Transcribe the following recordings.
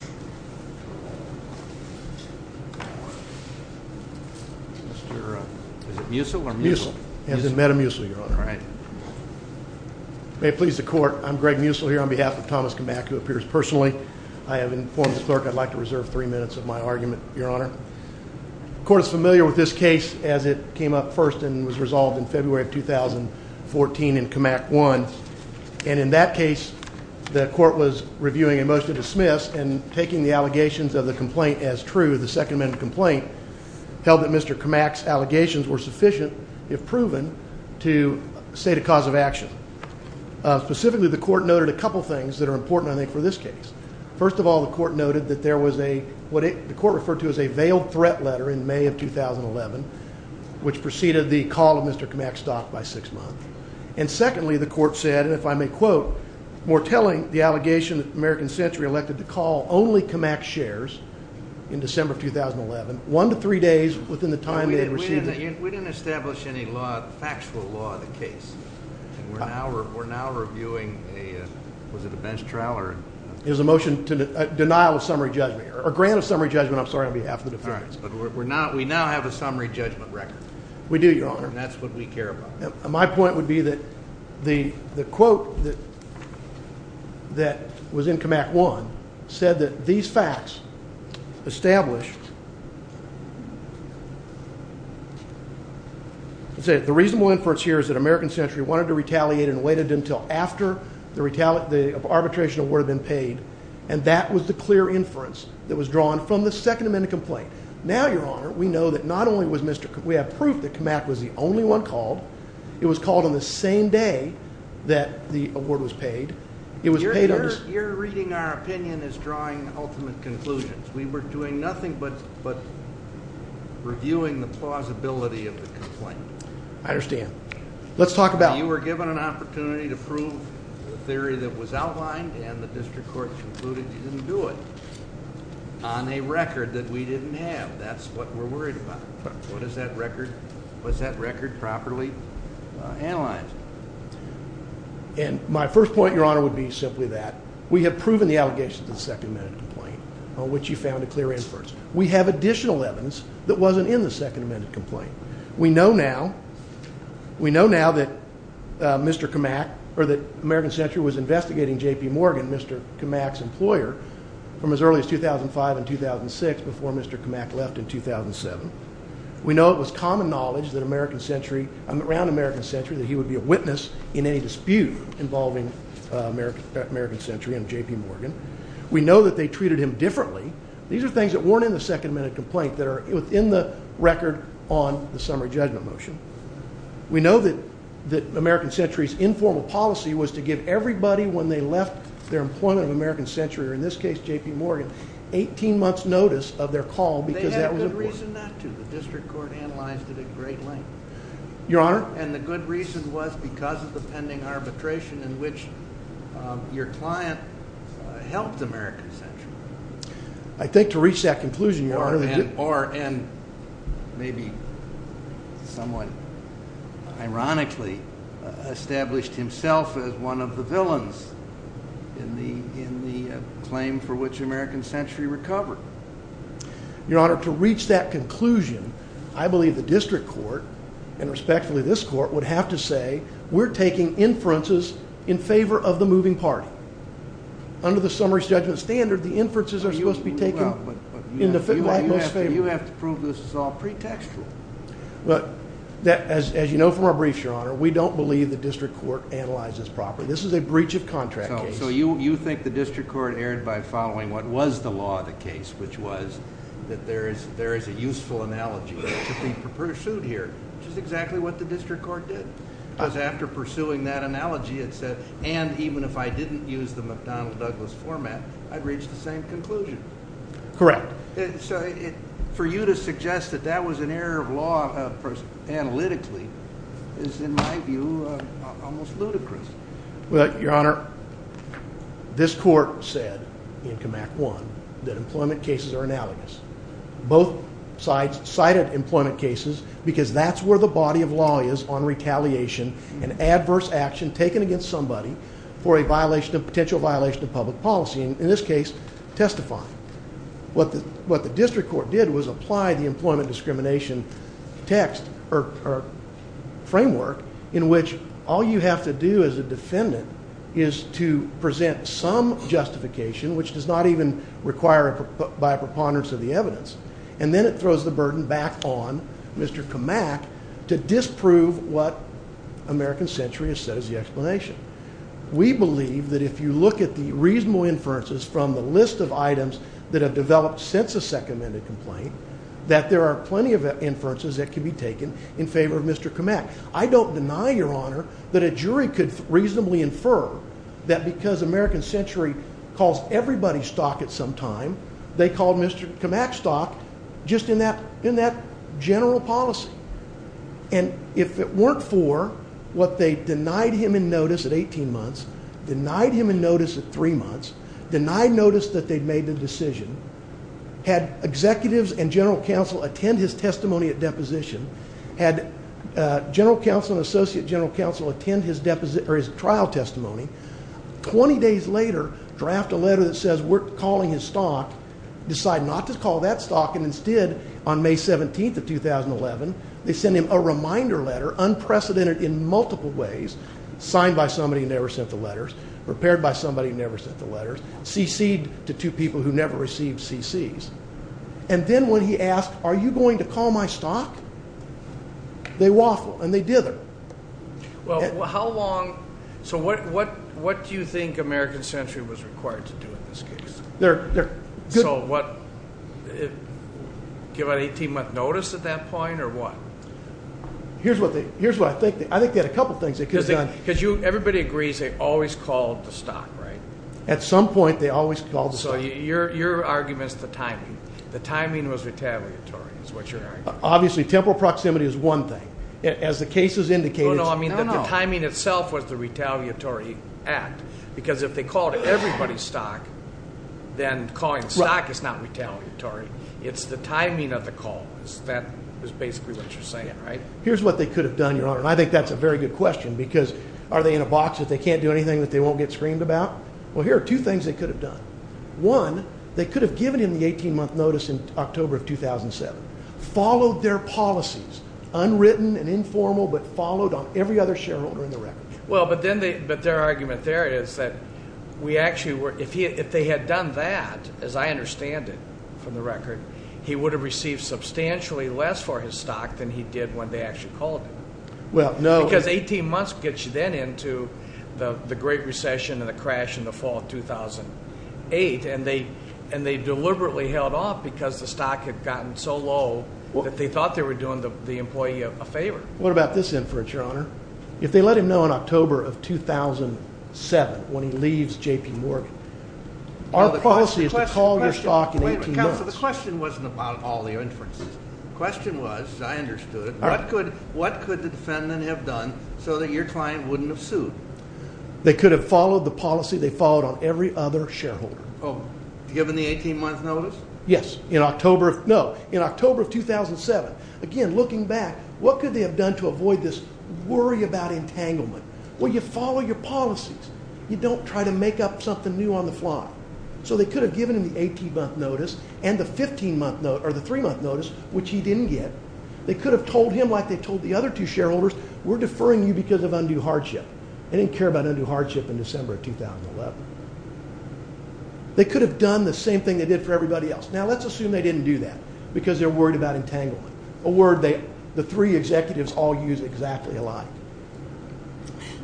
The Court is familiar with this case as it came up first and was resolved in February of 2014 in Kmak 1 and in that case the Court was reviewing a motion to dismiss and taking the allegations of the complaint as true. The Second Amendment complaint held that Mr. Kmak's allegations were sufficient, if proven, to state a cause of action. Specifically, the Court noted a couple of things that are important, I think, for this case. First of all, the Court noted that there was a, what the Court referred to as a veiled threat letter in May of 2011, which preceded the call of Mr. Kmak's stock by six months. And secondly, the Court said, and if I may quote, more telling, the allegation that American Century elected to call only Kmak's shares in December of 2011, one to three days within the time they had received it. We didn't establish any law, factual law, in the case. We're now reviewing a, was it a bench trial? It was a motion to denial of summary judgment, or grant of summary judgment, I'm sorry, on behalf of the defendants. All right, but we're not, we now have a summary judgment record. We do, Your Honor. And that's what we care about. My point would be that the quote that was in Kmak 1 said that these facts established, it said, the reasonable inference here is that American Century wanted to retaliate and waited until after the arbitration award had been paid, and that was the clear inference that was drawn from the Second Amendment complaint. Now, Your Honor, we know that not only was Mr., we have proof that Kmak was the only one called. It was called on the same day that the award was paid. It was paid on the same, You're reading our opinion as drawing ultimate conclusions. We were doing nothing but reviewing the plausibility of the complaint. I understand. Let's talk about, you were given an opportunity to prove the theory that was outlined, and the district courts concluded you didn't do it on a record that we didn't have. That's what we're worried about. But what does that record, was that record properly analyzed? And my first point, Your Honor, would be simply that we have proven the allegations of the Second Amendment complaint on which you found a clear inference. We have additional evidence that wasn't in the Second Amendment complaint that Mr. Kmak, or that American Century was investigating J.P. Morgan, Mr. Kmak's employer, from as early as 2005 and 2006, before Mr. Kmak left in 2007. We know it was common knowledge that American Century, around American Century, that he would be a witness in any dispute involving American Century and J.P. Morgan. We know that they treated him differently. These are things that weren't in the Second Amendment complaint that are within the record on the summary judgment motion. We know that American Century's informal policy was to give everybody, when they left their employment of American Century, or in this case J.P. Morgan, 18 months' notice of their call because that was important. They had a good reason not to. The district court analyzed it at great length. Your Honor? And the good reason was because of the pending arbitration in which your client helped American Century. I think to reach that conclusion, Your Honor... Or, and maybe someone ironically established himself as one of the villains in the claim for which American Century recovered. Your Honor, to reach that conclusion, I believe the district court, and respectfully this court, would have to say, we're taking inferences in favor of the moving party. Under the summary judgment standard, the inferences are supposed to be taken in the most favorable... You have to prove this is all pretextual. As you know from our briefs, Your Honor, we don't believe the district court analyzes properly. This is a breach of contract case. So you think the district court erred by following what was the law of the case, which was that there is a useful analogy to be pursued here, which is exactly what the district court did. Because after pursuing that analogy, it said, and even if I didn't use the McDonnell-Douglas format, I'd reach the same conclusion. Correct. So for you to suggest that that was an error of law analytically is, in my view, almost ludicrous. Well, Your Honor, this court said in CAMAC 1 that employment cases are analogous. Both sides cited employment cases because that's where the body of law is on retaliation and adverse action taken against somebody for a potential violation of public policy, and in this case, testifying. What the district court did was apply the employment discrimination text or framework in which all you have to do as a defendant is to present some justification, which does not even require by a preponderance of the evidence, and then it throws the burden back on Mr. CAMAC to disprove what American Century has said as the explanation. We believe that if you look at the reasonable inferences from the list of items that have developed since the second amended complaint, that there are plenty of inferences that can be taken in favor of Mr. CAMAC. I don't deny, Your Honor, that a jury could reasonably infer that because American Century calls everybody stock at some time. They called Mr. CAMAC stock just in that general policy, and if it weren't for what they denied him in notice at 18 months, denied him in notice at three months, denied notice that they'd made the decision, had executives and general counsel attend his testimony at deposition, had general counsel and associate general counsel attend his trial testimony, 20 days later draft a letter that says we're calling his stock, decide not to call that stock, and instead on May 17th of 2011 they send him a reminder letter, unprecedented in multiple ways, signed by somebody who never sent the letters, prepared by somebody who never sent the letters, cc'd to two people who never received cc's. And then when he asked, are you going to call my stock, they waffled and they dithered. Well, how long, so what do you think American Century was required to do in this case? They're good. So what, give an 18-month notice at that point or what? Here's what I think, I think they had a couple things they could have done. Because everybody agrees they always called the stock, right? At some point they always called the stock. So your argument is the timing. The timing was retaliatory is what you're arguing. Obviously temporal proximity is one thing. As the case has indicated... No, no, I mean the timing itself was the retaliatory act. Because if they called everybody's stock, then calling stock is not retaliatory. It's the timing of the call. That is basically what you're saying, right? Here's what they could have done, Your Honor, and I think that's a very good question. Because are they in a box that they can't do anything that they won't get screamed about? Well, here are two things they could have done. One, they could have given him the 18-month notice in October of 2007. Followed their policies, unwritten and informal, but followed on every other shareholder in the record. Well, but their argument there is that if they had done that, as I understand it from the record, he would have received substantially less for his stock than he did when they actually called him. Because 18 months gets you then into the Great Recession and the crash in the fall of 2008. And they deliberately held off because the stock had gotten so low that they thought they were doing the employee a favor. What about this inference, Your Honor? If they let him know in October of 2007 when he leaves J.P. Morgan, our policy is to call your stock in 18 months. Wait a minute, Counselor. The question wasn't about all the inferences. The question was, as I understood it, what could the defendant have done so that your client wouldn't have sued? They could have followed the policy they followed on every other shareholder. Oh, given the 18-month notice? Yes. No, in October of 2007. Again, looking back, what could they have done to avoid this worry about entanglement? Well, you follow your policies. You don't try to make up something new on the fly. So they could have given him the 18-month notice and the three-month notice, which he didn't get. They could have told him, like they told the other two shareholders, we're deferring you because of undue hardship. They didn't care about undue hardship in December of 2011. They could have done the same thing they did for everybody else. Now, let's assume they didn't do that because they're worried about entanglement, a word the three executives all use exactly alike.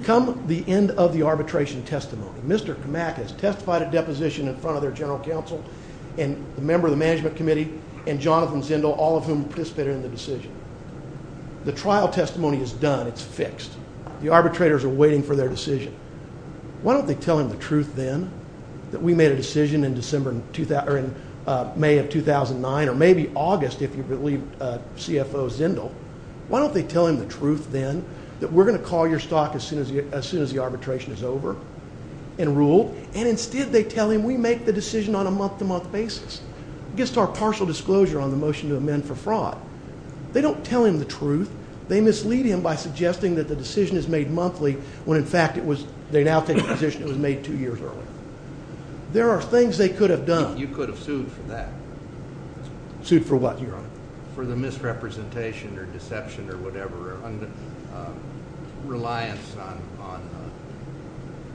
Come the end of the arbitration testimony, Mr. Kamak has testified at deposition in front of their general counsel and the member of the management committee and Jonathan Zindel, all of whom participated in the decision. The trial testimony is done. It's fixed. The arbitrators are waiting for their decision. Why don't they tell him the truth then, that we made a decision in May of 2009, or maybe August if you believe CFO Zindel? Why don't they tell him the truth then, that we're going to call your stock as soon as the arbitration is over and ruled, and instead they tell him we make the decision on a month-to-month basis? It gets to our partial disclosure on the motion to amend for fraud. They don't tell him the truth. They mislead him by suggesting that the decision is made monthly when, in fact, they now take the position it was made two years earlier. There are things they could have done. You could have sued for that. Sued for what, Your Honor? For the misrepresentation or deception or whatever, or reliance on,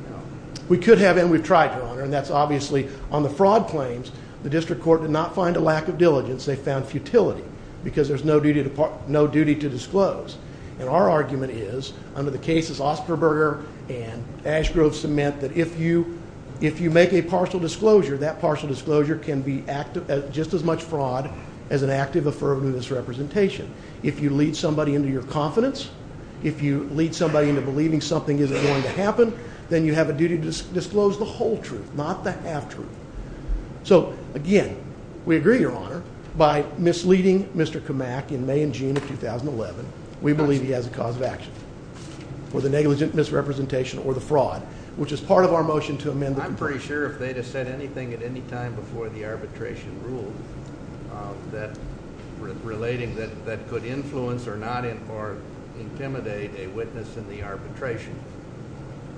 you know. We could have, and we've tried, Your Honor, and that's obviously on the fraud claims. The district court did not find a lack of diligence. They found futility because there's no duty to disclose. And our argument is, under the cases Osterberger and Ashgrove cement, that if you make a partial disclosure, that partial disclosure can be just as much fraud as an active affirmative misrepresentation. If you lead somebody into your confidence, if you lead somebody into believing something isn't going to happen, then you have a duty to disclose the whole truth, not the half-truth. So, again, we agree, Your Honor, by misleading Mr. Kamak in May and June of 2011, we believe he has a cause of action for the negligent misrepresentation or the fraud, which is part of our motion to amend. I'm pretty sure if they'd have said anything at any time before the arbitration rule, relating that that could influence or intimidate a witness in the arbitration,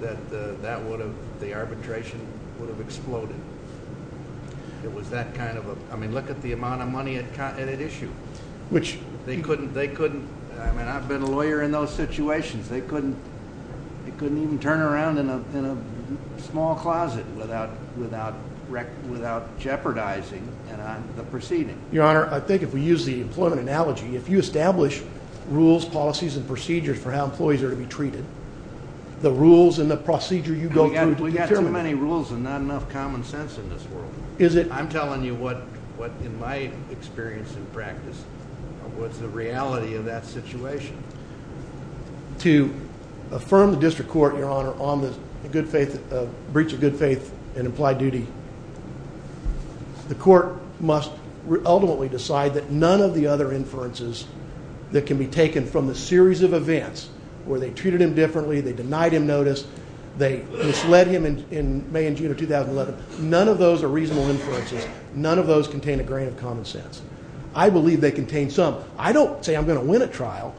that the arbitration would have exploded. It was that kind of a, I mean, look at the amount of money it issued. They couldn't, they couldn't, I mean, I've been a lawyer in those situations. They couldn't even turn around in a small closet without jeopardizing the proceeding. Your Honor, I think if we use the employment analogy, if you establish rules, policies, and procedures for how employees are to be treated, the rules and the procedure you go through determine it. We've got too many rules and not enough common sense in this world. I'm telling you what, in my experience and practice, was the reality of that situation. To affirm the district court, Your Honor, on the breach of good faith and implied duty, the court must ultimately decide that none of the other inferences that can be taken from the series of events where they treated him differently, they denied him notice, they misled him in May and June of 2011, none of those are reasonable inferences. None of those contain a grain of common sense. I believe they contain some. I don't say I'm going to win a trial.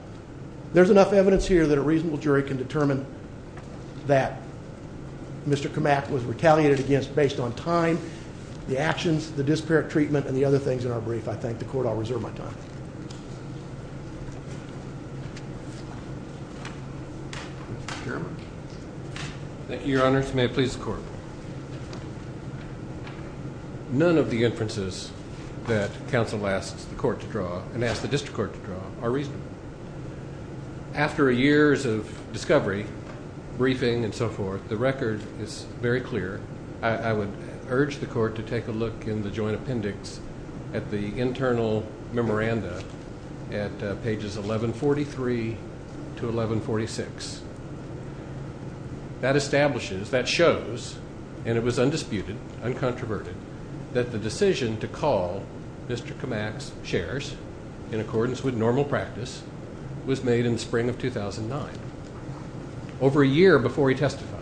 There's enough evidence here that a reasonable jury can determine that Mr. Kamak was retaliated against based on time, the actions, the disparate treatment, and the other things in our brief. I thank the court. I'll reserve my time. Mr. Chairman. Thank you, Your Honor. May it please the court. None of the inferences that counsel asks the court to draw and asks the district court to draw are reasonable. After years of discovery, briefing and so forth, the record is very clear. I would urge the court to take a look in the joint appendix at the internal memoranda at pages 1143 to 1146. That establishes, that shows, and it was undisputed, uncontroverted, that the decision to call Mr. Kamak's shares in accordance with normal practice was made in the spring of 2009, over a year before he testified,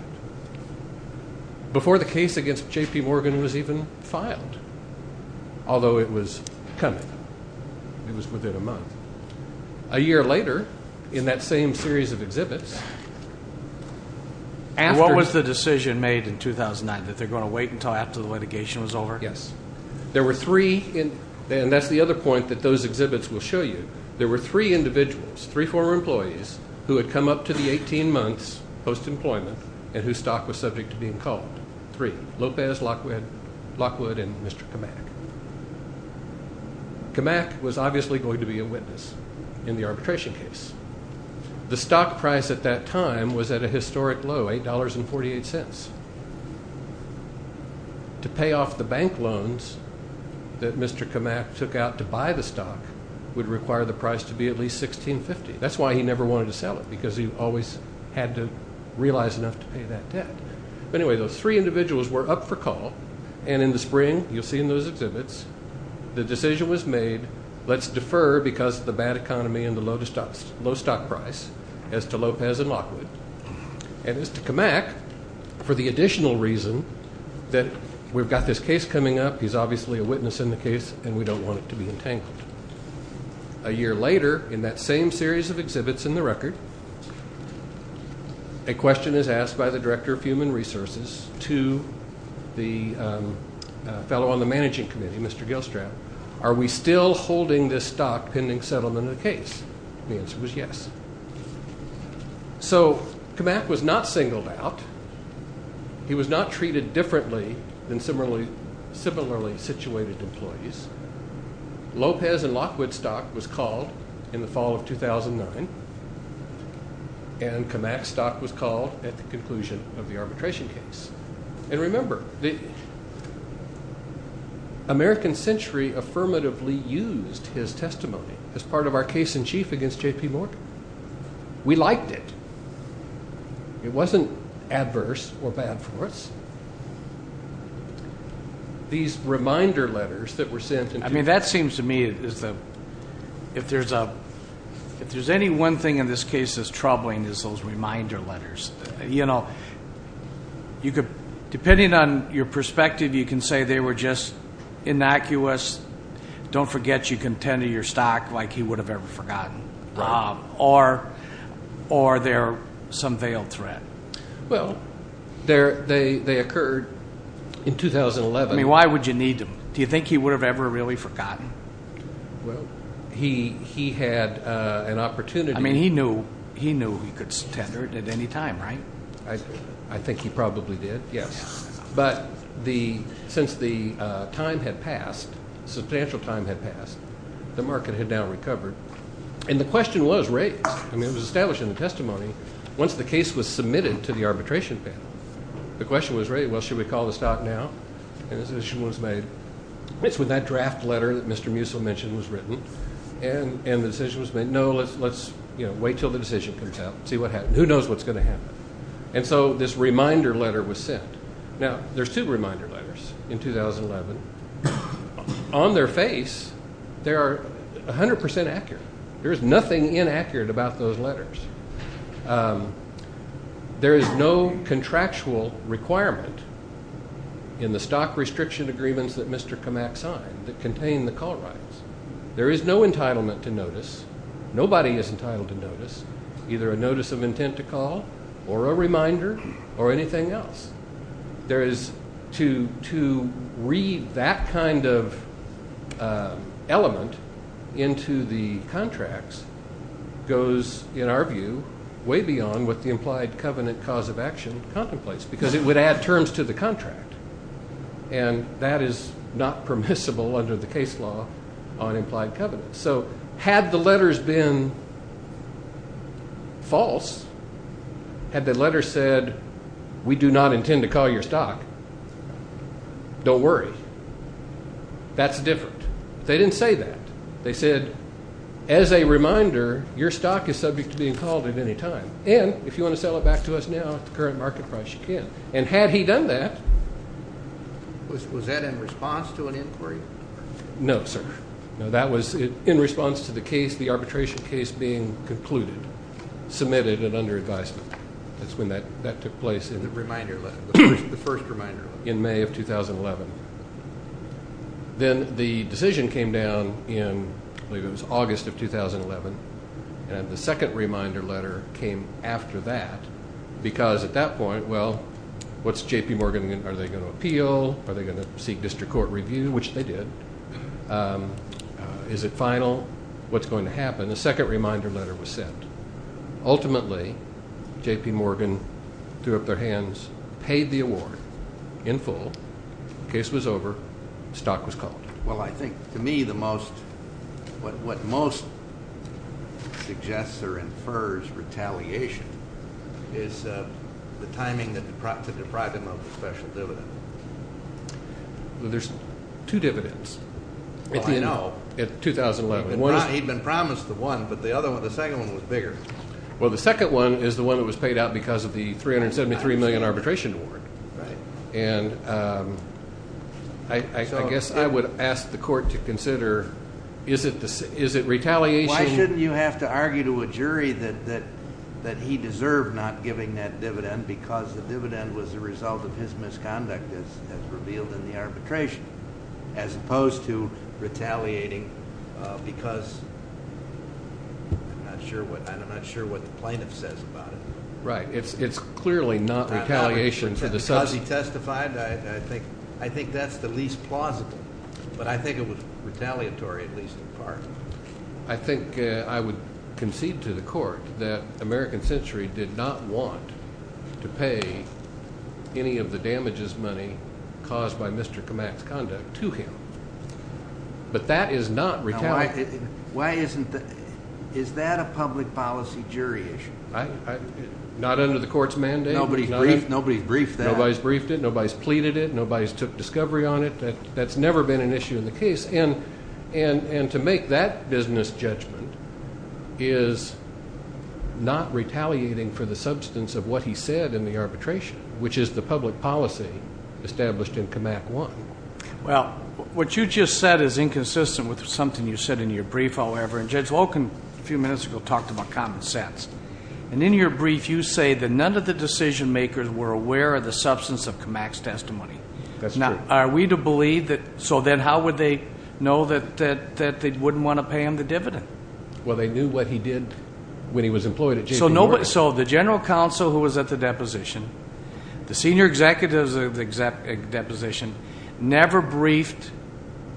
before the case against J.P. Morgan was even filed, although it was coming. It was within a month. A year later, in that same series of exhibits, What was the decision made in 2009, that they're going to wait until after the litigation was over? Yes. There were three, and that's the other point that those exhibits will show you. There were three individuals, three former employees, who had come up to the 18 months post-employment and whose stock was subject to being called. Three, Lopez, Lockwood, and Mr. Kamak. Kamak was obviously going to be a witness in the arbitration case. The stock price at that time was at a historic low, $8.48. To pay off the bank loans that Mr. Kamak took out to buy the stock would require the price to be at least $16.50. That's why he never wanted to sell it, because he always had to realize enough to pay that debt. Anyway, those three individuals were up for call, and in the spring, you'll see in those exhibits, the decision was made, let's defer because of the bad economy and the low stock price as to Lopez and Lockwood. And as to Kamak, for the additional reason that we've got this case coming up, he's obviously a witness in the case, and we don't want it to be entangled. A year later, in that same series of exhibits in the record, a question is asked by the Director of Human Resources to the fellow on the Managing Committee, Mr. Gilstrap, are we still holding this stock pending settlement of the case? The answer was yes. So Kamak was not singled out. He was not treated differently than similarly situated employees. Lopez and Lockwood stock was called in the fall of 2009, and Kamak stock was called at the conclusion of the arbitration case. And remember, the American Century affirmatively used his testimony as part of our case in chief against J.P. Morgan. We liked it. It wasn't adverse or bad for us. These reminder letters that were sent. I mean, that seems to me, if there's any one thing in this case that's troubling is those reminder letters. You know, depending on your perspective, you can say they were just innocuous, don't forget you can tender your stock like he would have ever forgotten, or they're some veiled threat. Well, they occurred in 2011. I mean, why would you need them? Do you think he would have ever really forgotten? Well, he had an opportunity. I mean, he knew he could tender it at any time, right? I think he probably did, yes. But since the time had passed, substantial time had passed, the market had now recovered. I mean, it was established in the testimony. Once the case was submitted to the arbitration panel, the question was raised, well, should we call the stock now? And a decision was made. It's with that draft letter that Mr. Musil mentioned was written. And the decision was made, no, let's wait until the decision comes out and see what happens. Who knows what's going to happen? And so this reminder letter was sent. Now, there's two reminder letters in 2011. On their face, they are 100 percent accurate. There is nothing inaccurate about those letters. There is no contractual requirement in the stock restriction agreements that Mr. Kamak signed that contain the call rights. There is no entitlement to notice. Nobody is entitled to notice, either a notice of intent to call or a reminder or anything else. There is, to read that kind of element into the contracts goes, in our view, way beyond what the implied covenant cause of action contemplates because it would add terms to the contract. And that is not permissible under the case law on implied covenant. So had the letters been false, had the letter said, we do not intend to call your stock, don't worry. That's different. They didn't say that. They said, as a reminder, your stock is subject to being called at any time. And if you want to sell it back to us now at the current market price, you can. And had he done that. Was that in response to an inquiry? No, sir. No, that was in response to the case, the arbitration case being concluded, submitted and under advisement. That's when that took place. The reminder letter, the first reminder letter. In May of 2011. Then the decision came down in, I believe it was August of 2011. And the second reminder letter came after that because at that point, well, what's J.P. Morgan going to do? Are they going to appeal? Are they going to seek district court review, which they did? Is it final? What's going to happen? The second reminder letter was sent. Ultimately, J.P. Morgan threw up their hands, paid the award in full. Case was over. Stock was called. Well, I think to me the most, what most suggests or infers retaliation is the timing to deprive him of the special dividend. There's two dividends. Well, I know. At 2011. He'd been promised the one, but the second one was bigger. Well, the second one is the one that was paid out because of the $373 million arbitration award. Right. And I guess I would ask the court to consider, is it retaliation? Why shouldn't you have to argue to a jury that he deserved not giving that dividend because the dividend was the result of his misconduct, as revealed in the arbitration, as opposed to retaliating because I'm not sure what the plaintiff says about it. Right. It's clearly not retaliation. Because he testified, I think that's the least plausible. But I think it was retaliatory, at least in part. I think I would concede to the court that American Century did not want to pay any of the damages money caused by Mr. Kamak's conduct to him. But that is not retaliation. Why isn't the – is that a public policy jury issue? Not under the court's mandate. Nobody briefed that. Nobody's briefed it. Nobody's pleaded it. Nobody's took discovery on it. That's never been an issue in the case. And to make that business judgment is not retaliating for the substance of what he said in the arbitration, which is the public policy established in Kamak 1. Well, what you just said is inconsistent with something you said in your brief, however. And Judge Wolkin, a few minutes ago, talked about common sense. And in your brief, you say that none of the decision makers were aware of the substance of Kamak's testimony. That's true. Now, are we to believe that – so then how would they know that they wouldn't want to pay him the dividend? Well, they knew what he did when he was employed at JPMorgan. So the general counsel who was at the deposition, the senior executives of the deposition, never briefed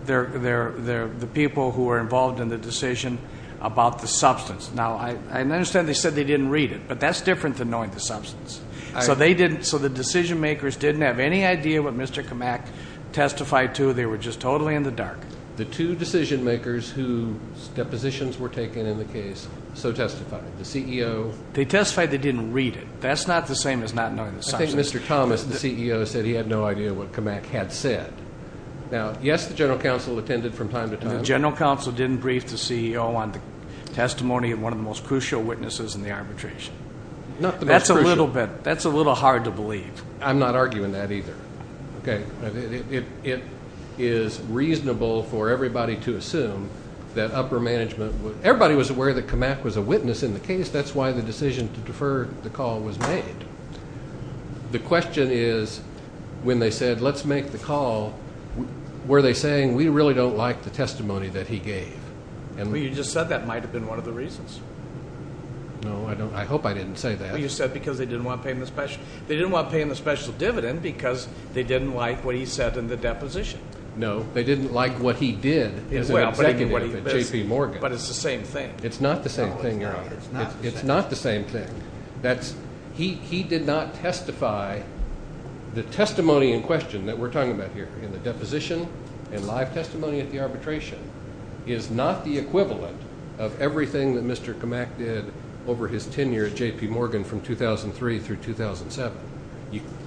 the people who were involved in the decision about the substance. Now, I understand they said they didn't read it, but that's different than knowing the substance. So they didn't – so the decision makers didn't have any idea what Mr. Kamak testified to. They were just totally in the dark. The two decision makers whose depositions were taken in the case so testified. The CEO – They testified they didn't read it. That's not the same as not knowing the substance. I think Mr. Thomas, the CEO, said he had no idea what Kamak had said. Now, yes, the general counsel attended from time to time. The general counsel didn't brief the CEO on the testimony of one of the most crucial witnesses in the arbitration. Not the most crucial. That's a little bit – that's a little hard to believe. I'm not arguing that either. Okay. It is reasonable for everybody to assume that upper management – everybody was aware that Kamak was a witness in the case. That's why the decision to defer the call was made. The question is when they said let's make the call, were they saying we really don't like the testimony that he gave? Well, you just said that might have been one of the reasons. No, I don't – I hope I didn't say that. You said because they didn't want to pay him the – they didn't want to pay him the special dividend because they didn't like what he said in the deposition. No, they didn't like what he did as an executive at J.P. Morgan. But it's the same thing. It's not the same thing, Your Honor. It's not the same thing. That's – he did not testify – the testimony in question that we're talking about here in the deposition and live testimony at the arbitration is not the equivalent of everything that Mr. Kamak did over his tenure at J.P. Morgan from 2003 through 2007.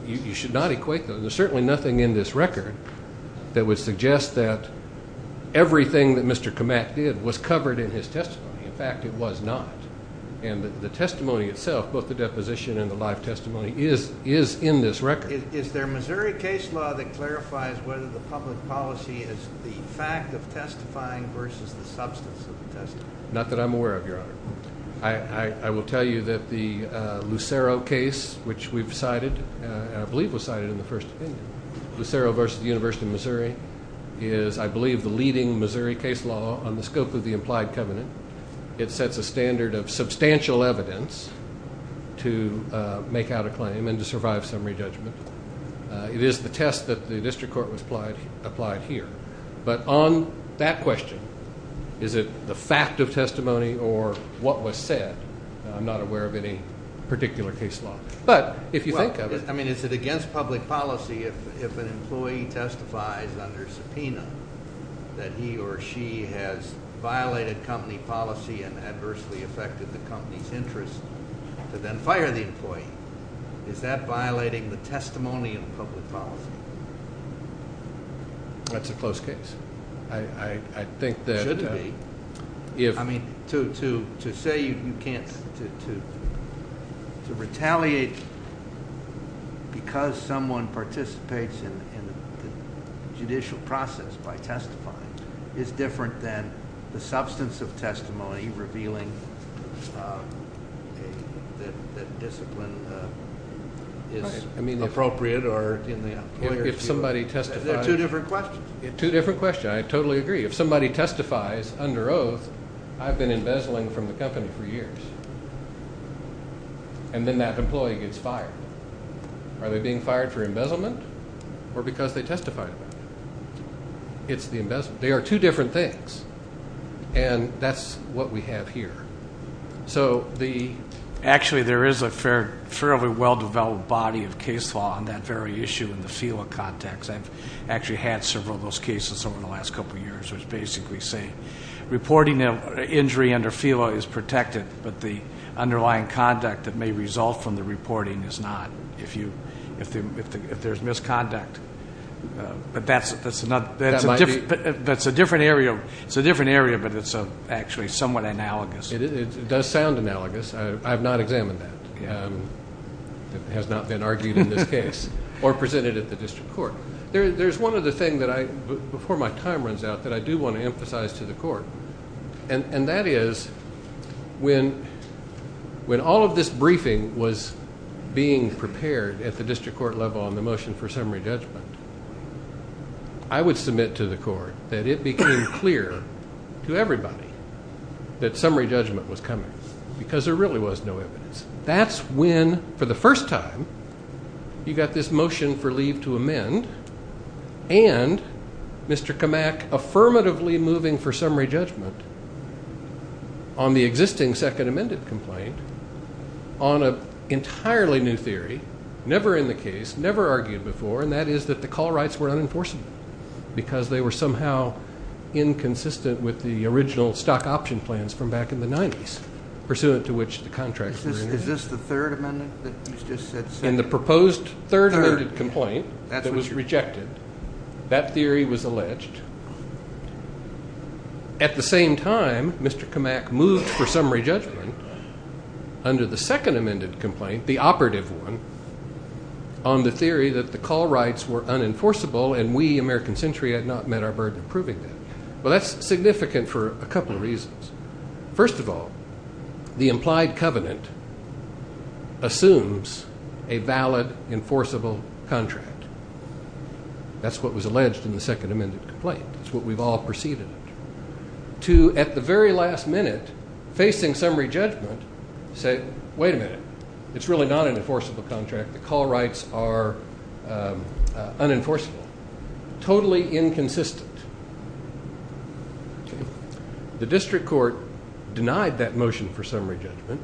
You should not equate those. There's certainly nothing in this record that would suggest that everything that Mr. Kamak did was covered in his testimony. In fact, it was not. And the testimony itself, both the deposition and the live testimony, is in this record. Is there a Missouri case law that clarifies whether the public policy is the fact of testifying versus the substance of the testimony? Not that I'm aware of, Your Honor. I will tell you that the Lucero case, which we've cited and I believe was cited in the first opinion, Lucero versus the University of Missouri, is, I believe, the leading Missouri case law on the scope of the implied covenant. It sets a standard of substantial evidence to make out a claim and to survive summary judgment. It is the test that the district court applied here. But on that question, is it the fact of testimony or what was said? I'm not aware of any particular case law. But if you think of it. I mean, is it against public policy if an employee testifies under subpoena that he or she has violated company policy and adversely affected the company's interest to then fire the employee? Is that violating the testimony of public policy? That's a close case. I think that it should be. I mean, to say you can't, to retaliate because someone participates in the judicial process by testifying is different than the substance of testimony revealing that discipline is appropriate. If somebody testifies. They're two different questions. Two different questions. I totally agree. If somebody testifies under oath, I've been embezzling from the company for years. And then that employee gets fired. Are they being fired for embezzlement or because they testified about it? It's the embezzlement. They are two different things. And that's what we have here. Actually, there is a fairly well-developed body of case law on that very issue in the FELA context. I've actually had several of those cases over the last couple of years. It's basically saying reporting an injury under FELA is protected, but the underlying conduct that may result from the reporting is not if there's misconduct. But that's a different area. It's a different area, but it's actually somewhat analogous. It does sound analogous. I have not examined that. It has not been argued in this case or presented at the district court. There's one other thing before my time runs out that I do want to emphasize to the court, and that is when all of this briefing was being prepared at the district court level on the motion for summary judgment, I would submit to the court that it became clear to everybody that summary judgment was coming because there really was no evidence. That's when, for the first time, you got this motion for leave to amend and Mr. Kamak affirmatively moving for summary judgment on the existing second amended complaint on an entirely new theory, never in the case, never argued before, and that is that the call rights were unenforceable because they were somehow inconsistent with the original stock option plans from back in the 90s, pursuant to which the contracts were in. Is this the third amendment that you just said? In the proposed third amended complaint that was rejected, that theory was alleged. At the same time, Mr. Kamak moved for summary judgment under the second amended complaint, the operative one, on the theory that the call rights were unenforceable and we, American Century, had not met our burden of proving that. Well, that's significant for a couple of reasons. First of all, the implied covenant assumes a valid enforceable contract. That's what was alleged in the second amended complaint. That's what we've all perceived in it. To, at the very last minute, facing summary judgment, say, wait a minute. It's really not an enforceable contract. The call rights are unenforceable, totally inconsistent. The district court denied that motion for summary judgment.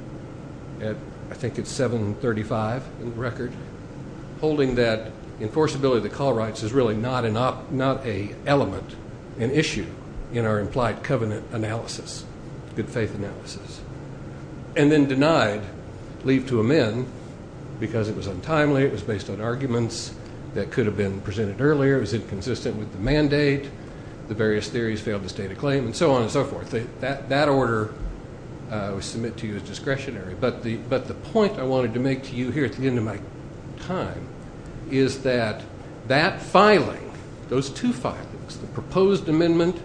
I think it's 735 in the record. Holding that enforceability of the call rights is really not an element, an issue, in our implied covenant analysis, good faith analysis. And then denied leave to amend because it was untimely. It was based on arguments that could have been presented earlier. It was inconsistent with the mandate. The various theories failed to state a claim and so on and so forth. That order was submitted to you as discretionary. But the point I wanted to make to you here at the end of my time is that that filing, those two filings, the proposed amendment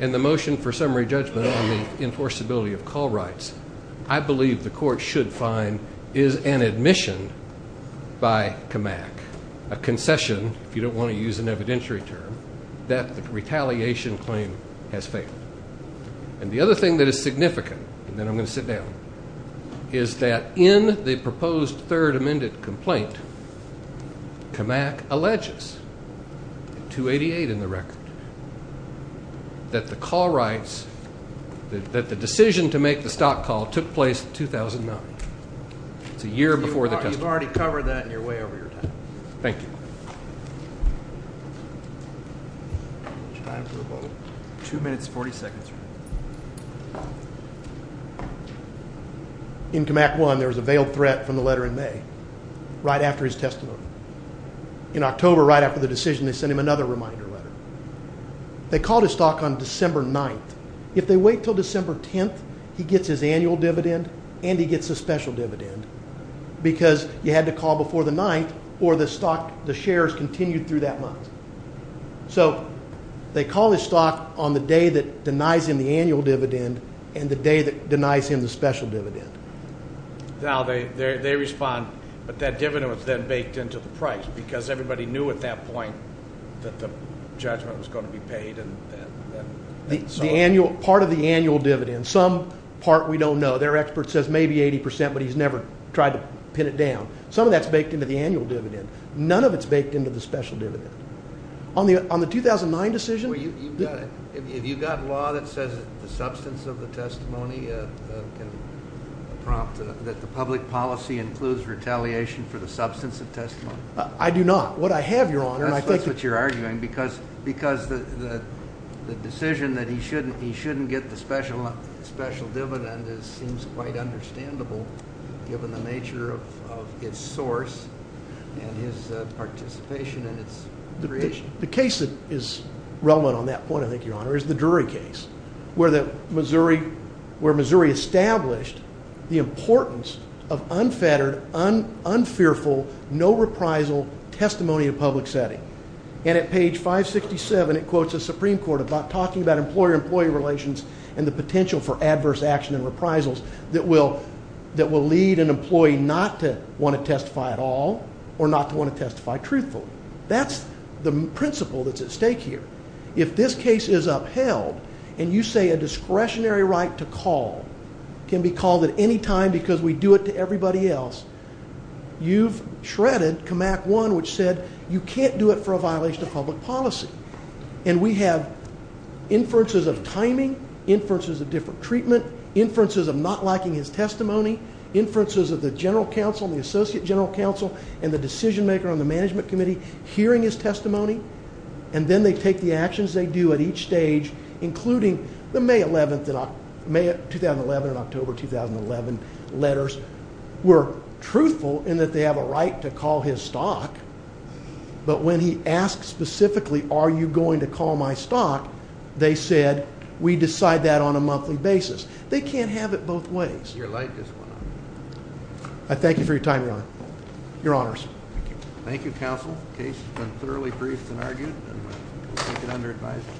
and the motion for summary judgment on the enforceability of call rights, I believe the court should find is an admission by CAMAC, a concession, if you don't want to use an evidentiary term, that the retaliation claim has failed. And the other thing that is significant, and then I'm going to sit down, is that in the proposed third amended complaint, CAMAC alleges, 288 in the record, that the call rights, that the decision to make the stock call took place in 2009. It's a year before the testimony. You've already covered that and you're way over your time. Thank you. Time for a vote. Two minutes, 40 seconds. In CAMAC 1, there was a veiled threat from the letter in May, right after his testimony. In October, right after the decision, they sent him another reminder letter. They called his stock on December 9th. If they wait until December 10th, he gets his annual dividend and he gets a special dividend because you had to call before the 9th or the shares continued through that month. So they call his stock on the day that denies him the annual dividend and the day that denies him the special dividend. Now, they respond, but that dividend was then baked into the price because everybody knew at that point that the judgment was going to be paid. Part of the annual dividend, some part we don't know. Their expert says maybe 80 percent, but he's never tried to pin it down. Some of that's baked into the annual dividend. None of it's baked into the special dividend. On the 2009 decision? Well, have you got law that says the substance of the testimony can prompt that the public policy includes retaliation for the substance of testimony? I do not. What I have, Your Honor, and I think that's what you're arguing, because the decision that he shouldn't get the special dividend seems quite understandable given the nature of its source and his participation in its creation. The case that is relevant on that point, I think, Your Honor, is the Drury case, where Missouri established the importance of unfettered, unfearful, no reprisal testimony in a public setting. And at page 567, it quotes the Supreme Court about talking about employer-employee relations and the potential for adverse action and reprisals that will lead an employee not to want to testify at all or not to want to testify truthfully. That's the principle that's at stake here. If this case is upheld and you say a discretionary right to call can be called at any time because we do it to everybody else, you've shredded CMAQ 1, which said you can't do it for a violation of public policy. And we have inferences of timing, inferences of different treatment, inferences of not liking his testimony, inferences of the general counsel and the associate general counsel and the decision-maker on the management committee hearing his testimony, and then they take the actions they do at each stage, including the May 11, 2011 and October 2011 letters were truthful in that they have a right to call his stock. But when he asked specifically, are you going to call my stock, they said, we decide that on a monthly basis. They can't have it both ways. Your light just went off. I thank you for your time, Your Honor. Your Honors. Thank you, Counsel. The case has been thoroughly briefed and argued. We take it under advisement.